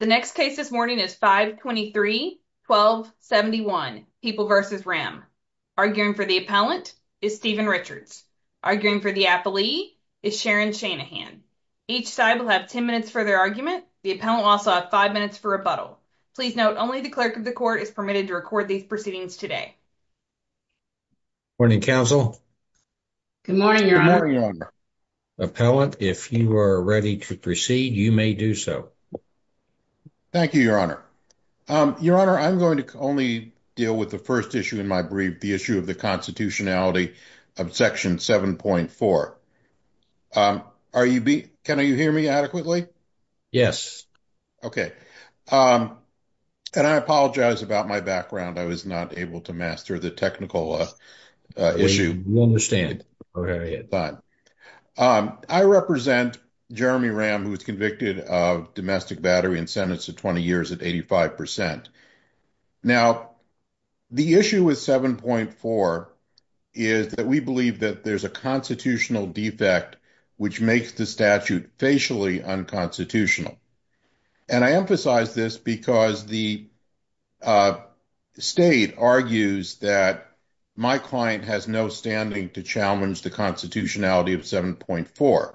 The next case this morning is 5 23 12 71 people versus ram arguing for the appellant is Stephen Richards arguing for the affilee is Sharon Shanahan. Each side will have 10 minutes for their argument. The appellant also have five minutes for rebuttal. Please note only the clerk of the court is permitted to record these proceedings today. Morning council. Good morning. Your honor. Appellant. If you are ready to see, you may do so. Thank you, your honor. Um, your honor, I'm going to only deal with the first issue in my brief, the issue of the constitutionality of section 7.4. Um, are you be, can you hear me adequately? Yes. Okay. Um, and I apologize about my background. I was not able to master the technical issue. We understand, but, um, I represent Jeremy Ram who was convicted of domestic battery and sentenced to 20 years at 85%. Now the issue with 7.4 is that we believe that there's a constitutional defect which makes the statute facially unconstitutional. And I emphasize this because the, uh, state argues that my client has no standing to challenge the constitutionality of 7.4.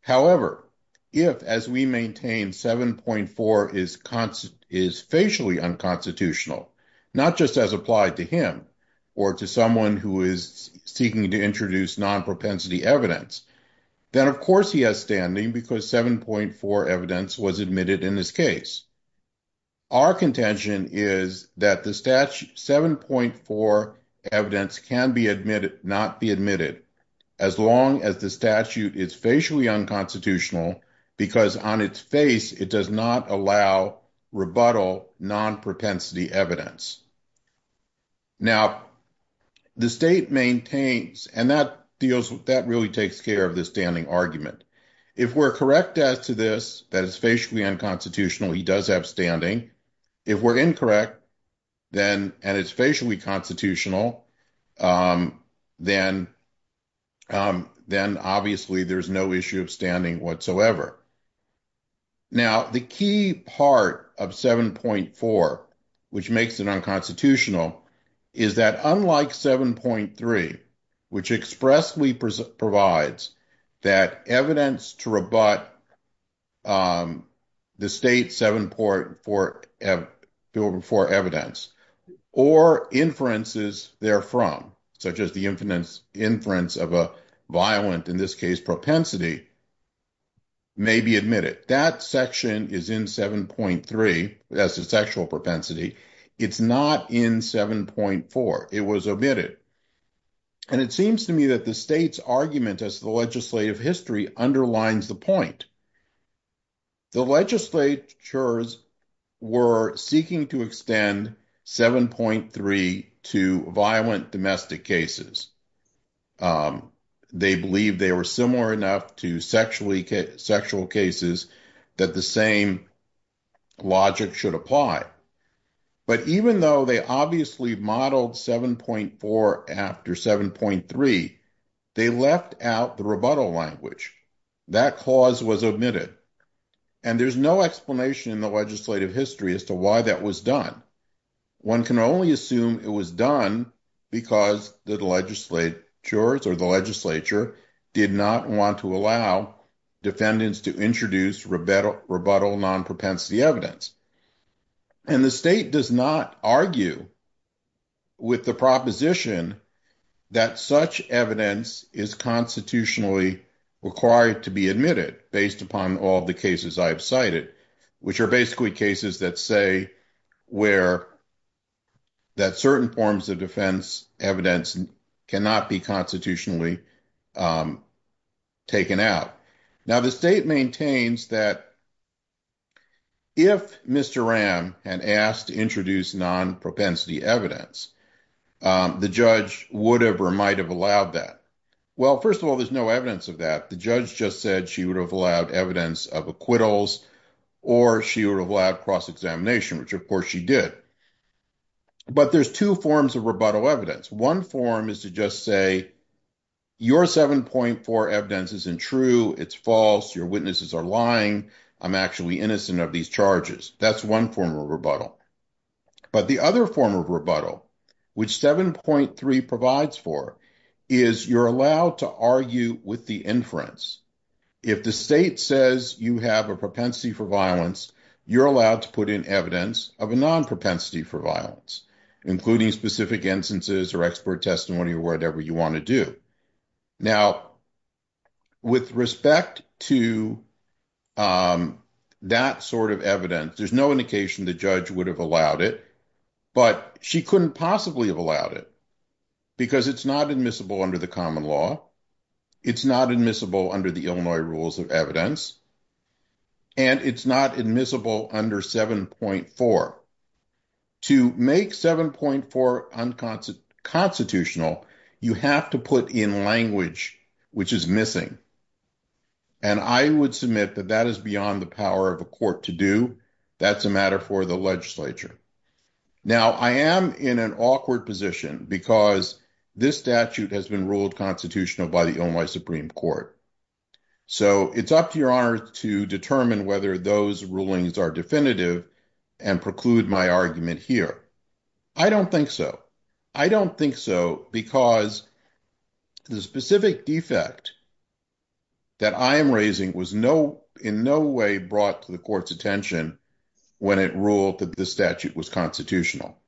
However, if as we maintain 7.4 is constant, is facially unconstitutional, not just as applied to him or to someone who is seeking to introduce non propensity evidence, then of course he has standing because 7.4 evidence was admitted in this case. Our can be admitted, not be admitted as long as the statute is facially unconstitutional because on its face, it does not allow rebuttal non propensity evidence. Now the state maintains, and that deals with that really takes care of the standing argument. If we're correct as to this, that is facially unconstitutional, he does have standing. If we're incorrect then, and it's facially constitutional, um, then, um, then obviously there's no issue of standing whatsoever. Now, the key part of 7.4, which makes it unconstitutional is that unlike 7.3, which expressly provides that evidence to rebut, um, the 7.4 evidence or inferences therefrom, such as the inference of a violent, in this case propensity, may be admitted. That section is in 7.3 as a sexual propensity. It's not in 7.4. It was admitted. And it seems to me that the state's argument as the legislative history underlines the point. The legislatures were seeking to extend 7.3 to violent domestic cases. Um, they believe they were similar enough to sexually sexual cases that the same logic should apply. But even though they obviously modeled 7.4 after 7.3, they left out the rebuttal language. That clause was admitted. And there's no explanation in the legislative history as to why that was done. One can only assume it was done because the legislatures or the legislature did not want to allow defendants to introduce rebuttal, non-propensity evidence. And the state does not argue with the proposition that such evidence is constitutionally required to be admitted based upon all the cases I've cited, which are basically cases that say where that certain forms of defense evidence cannot be constitutionally, um, taken out. Now, the state maintains that if Mr. Ram had asked to introduce non-propensity evidence, um, the judge would have, or might have allowed that. Well, first of all, there's no evidence of that. The judge just said she would have allowed evidence of acquittals or she would have allowed cross-examination, which of course she did. But there's two forms of rebuttal evidence. One form is to just say your 7.4 evidence isn't true. It's false. Your witnesses are lying. I'm actually innocent of these charges. That's one form of rebuttal. But the other form of rebuttal, which 7.3 provides for is you're allowed to argue with the inference. If the state says you have a propensity for violence, you're allowed to put in evidence of a non propensity for violence, including specific instances or expert testimony or whatever you want to do. Now, with respect to, um, that sort of evidence, there's no indication the judge would have allowed it, but she couldn't possibly have allowed it because it's not admissible under the common law. It's not admissible under the Illinois rules of evidence, and it's not admissible under 7.4. To make 7.4 unconstitutional, you have to put in language which is missing. And I would submit that that is beyond the power of a court to do. That's a matter for the legislature. Now, I am in an awkward position because this statute has been ruled constitutional by the Illinois Supreme Court. So it's up to your honor to determine whether those rulings are definitive and preclude my argument here. I don't think so. I don't think so, because the specific defect that I am raising was no, in no way brought to the court's attention when it ruled that the statute was constitutional.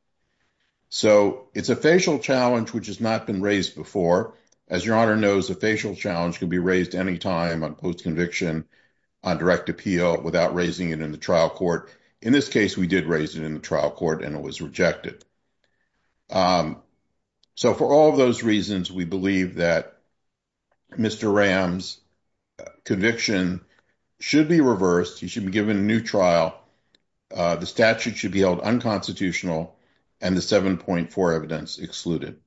So it's a facial challenge, which has not been raised before. As your honor knows, a facial challenge can be raised any time on post-conviction on direct appeal without raising it in the trial court. In this case, we did raise it in the trial court and it was rejected. So for all of those reasons, we believe that Mr. Ram's conviction should be reversed. He should be given a new trial. The statute should be held unconstitutional and the 7.4 evidence excluded.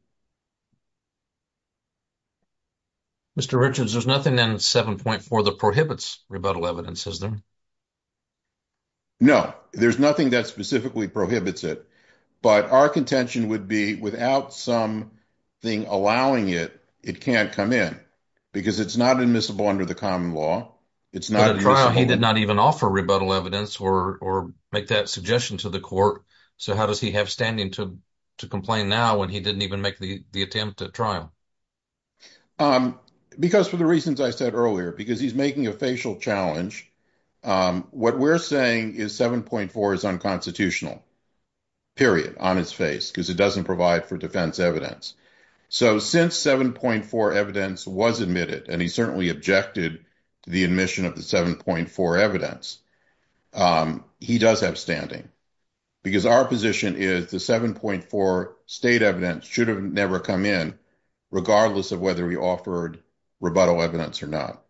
Mr. Richards, there's nothing in 7.4 that prohibits rebuttal evidence, is there? No, there's nothing that specifically prohibits it. But our contention would be without something allowing it, it can't come in because it's not admissible under the common law. It's not admissible. But in the trial, he did not even offer rebuttal evidence or make that suggestion to the court. So how does he have standing to complain now when he didn't even offer the attempt at trial? Because for the reasons I said earlier, because he's making a facial challenge, what we're saying is 7.4 is unconstitutional, period, on his face because it doesn't provide for defense evidence. So since 7.4 evidence was admitted and he certainly objected to the admission of the 7.4 evidence, he does have standing because our position is the 7.4 state evidence should have never come in, regardless of whether he offered rebuttal evidence or not.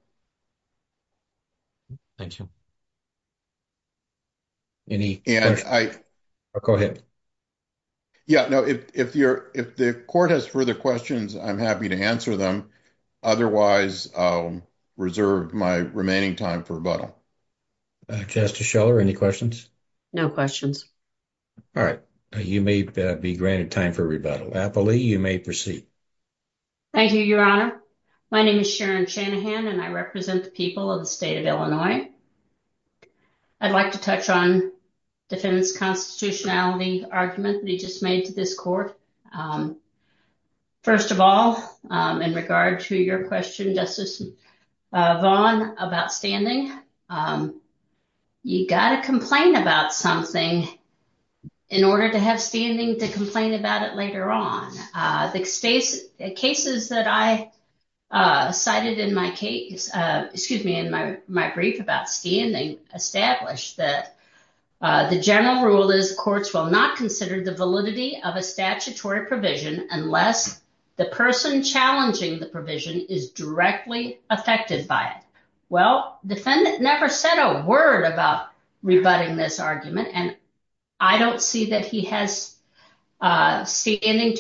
Thank you. Any questions? Go ahead. Yeah, no, if the court has further questions, I'm happy to answer them. Otherwise, reserve my remaining time for rebuttal. Justice Scheller, any questions? No questions. All right. You may be granted time for rebuttal. Applelee, you may proceed. Thank you, Your Honor. My name is Sharon Shanahan, and I represent the people of the state of Illinois. I'd like to touch on defendant's constitutionality argument that he just made to this court. First of all, in regard to your question, Justice Vaughn, of standing, you got to complain about something in order to have standing to complain about it later on. The cases that I cited in my brief about standing established that the general rule is courts will not consider the validity of a statutory provision unless the person challenging the provision is directly affected by it. Well, defendant never said a word about rebutting this argument, and I don't see that he has standing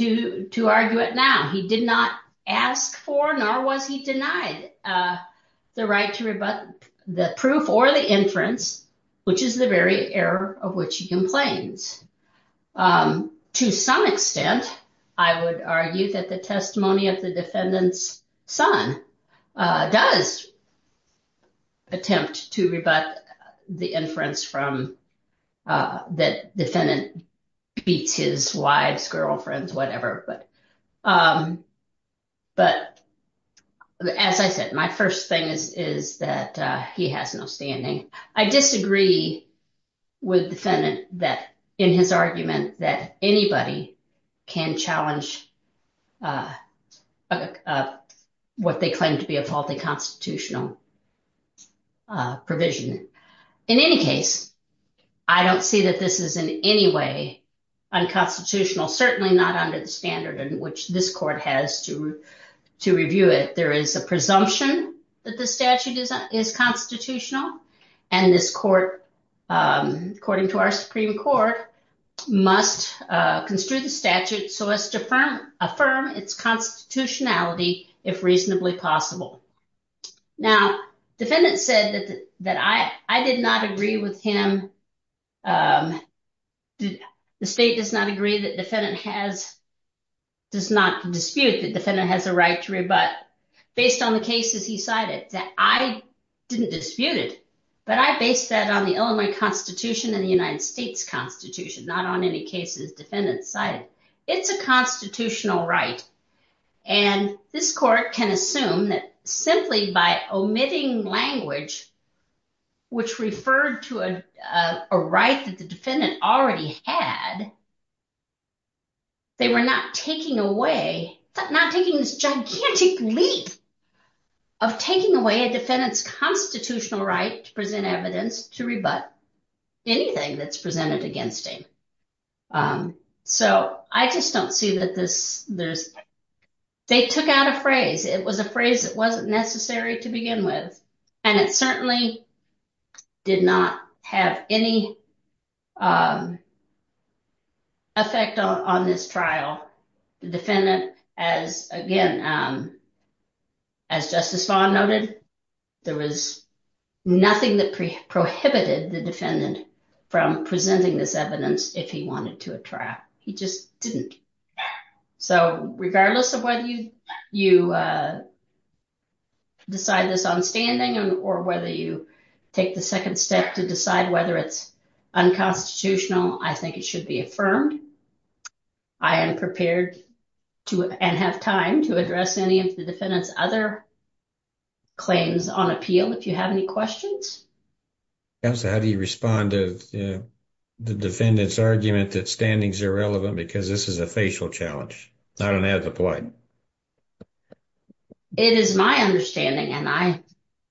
to argue it now. He did not ask for nor was he denied the right to rebut the proof or the inference, which is the very error of which he complains. To some extent, I would argue that the testimony of the defendant's son does attempt to rebut the inference from that defendant beats his wife's girlfriends, whatever. But as I said, my first thing is that he has no standing. I disagree with defendant in his argument that anybody can challenge what they claim to be a faulty constitutional provision. In any case, I don't see that this is in any way unconstitutional, certainly not under the standard in which this court has to review it. There is a presumption that the statute is constitutional, and this court, according to our Supreme Court, must construe the statute so as to affirm its constitutionality if reasonably possible. Now, defendant said that I did not agree with him. The state does not agree that the defendant has a right to rebut based on the cases he cited. I didn't dispute it, but I based that on the Illinois Constitution and the United States Constitution, not on any cases defendants cited. It's a constitutional right, and this court can assume that simply by omitting language which referred to a right that the defendant already had they were not taking away, not taking this gigantic leap of taking away a defendant's constitutional right to present evidence to rebut anything that's presented against him. So I just don't see that this, they took out a phrase. It was a phrase that wasn't necessary to begin with, and it certainly did not have any effect on this trial. The defendant, as again, as Justice Vaughn noted, there was nothing that prohibited the defendant from presenting this evidence if he wanted to at trial. He just didn't. So regardless of whether you decide this on standing or whether you take the second step to decide whether it's unconstitutional, I think it should be affirmed. I am prepared to and have time to address any of the defendant's other claims on appeal if you have any questions. Counselor, how do you respond to the defendant's argument that standing's irrelevant because this is a facial challenge, not an ethical one? It is my understanding, and I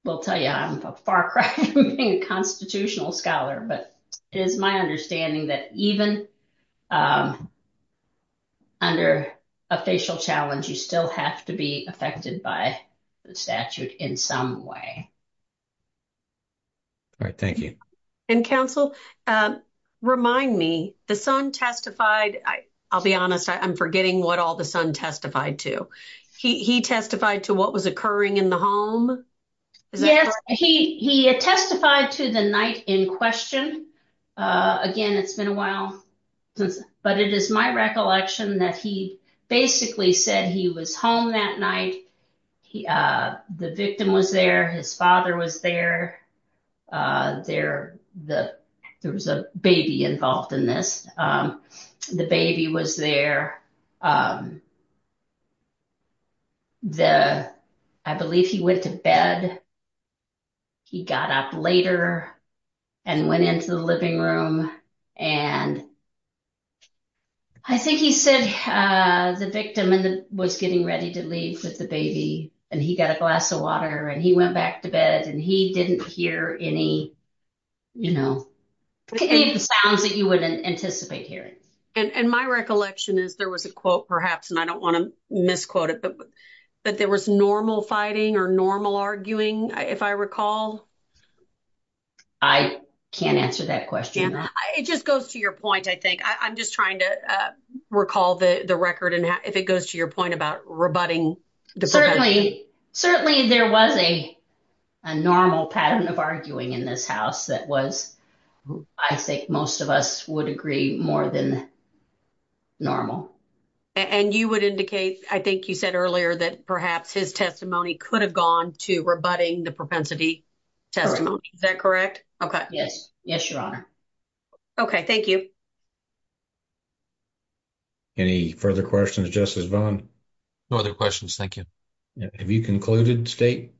will tell you I'm a far cry from being a constitutional scholar, but it is my understanding that even under a facial challenge you still have to be affected by the statute in some way. All right, thank you. And counsel, remind me, the son testified, I'll be honest, I'm forgetting what all the son testified to. He testified to what was occurring in the home? Yes, he testified to the night in question. Again, it's been a while, but it is my recollection that he basically said he was home that night, the victim was there, his father was there, there was a baby involved in this. The baby was there. I believe he went to bed. He got up later and went into the living room and I think he said the victim was getting ready to leave with the baby and he got a glass of water and he went back to bed and he didn't hear any, you know, sounds that you would anticipate hearing. And my recollection is there was a quote, perhaps, and I don't want to misquote it, but there was normal fighting or normal arguing, if I recall. I can't answer that question. It just goes to your point, I think. I'm just trying to recall the record and if it goes to your point about rebutting. Certainly, there was a normal pattern of arguing in this house that was, I think most of us would agree, more than normal. And you would indicate, I think you said earlier, that perhaps his testimony could have gone to rebutting the propensity testimony. Is that correct? Yes, Your Honor. Okay, thank you. Any further questions, Justice Vaughn? No other questions, thank you. Have you concluded, State?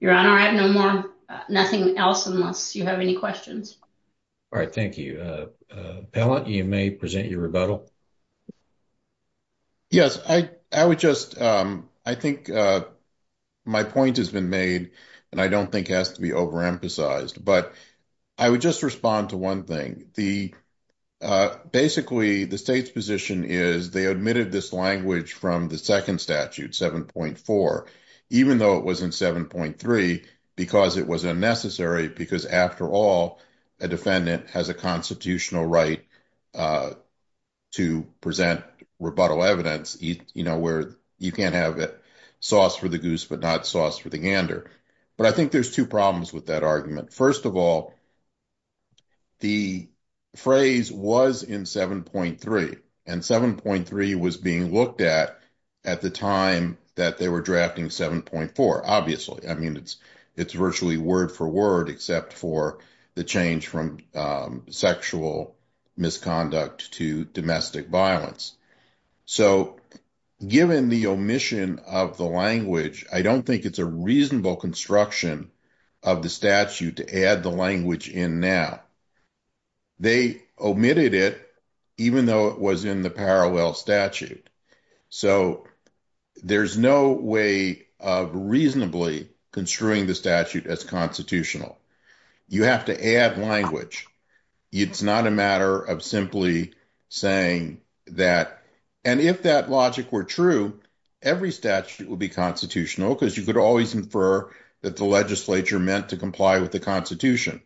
Your Honor, I have no more, nothing else, unless you have any questions. All right, thank you. Pellitt, you may present your rebuttal. Yes, I would just, I think my point has been made, and I don't think it has to be overemphasized, but I would just respond to one thing. The, basically, the State's position is they admitted this language from the second statute, 7.4, even though it was in 7.3, because it was unnecessary, because after all, a defendant has a constitutional right to present rebuttal evidence, where you can't have a sauce for the goose, but not sauce for the gander. But I think there's two problems with that argument. First of all, the phrase was in 7.3, and 7.3 was being looked at at the time that they were drafting 7.4, obviously. I mean, it's virtually word for word, except for the change from sexual misconduct to domestic violence. So, given the omission of the language, I don't think it's a reasonable construction of the statute to add the language in now. They omitted it, even though it was in the parallel statute. So, there's no way of reasonably construing the statute as constitutional. You have to add language. It's not a matter of simply saying that, and if that logic were true, every statute would be constitutional, because you could always infer that the legislature meant to comply with the constitution.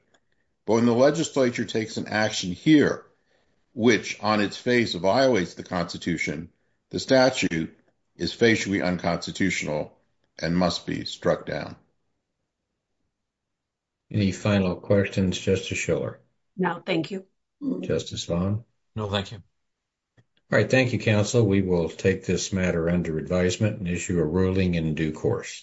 But when the legislature takes an action here, which on its face violates the constitution, the statute is facially unconstitutional and must be struck down. Any final questions, Justice Schiller? No, thank you. Justice Long? No, thank you. All right. Thank you, counsel. We will take this matter under advisement and issue a ruling in due course.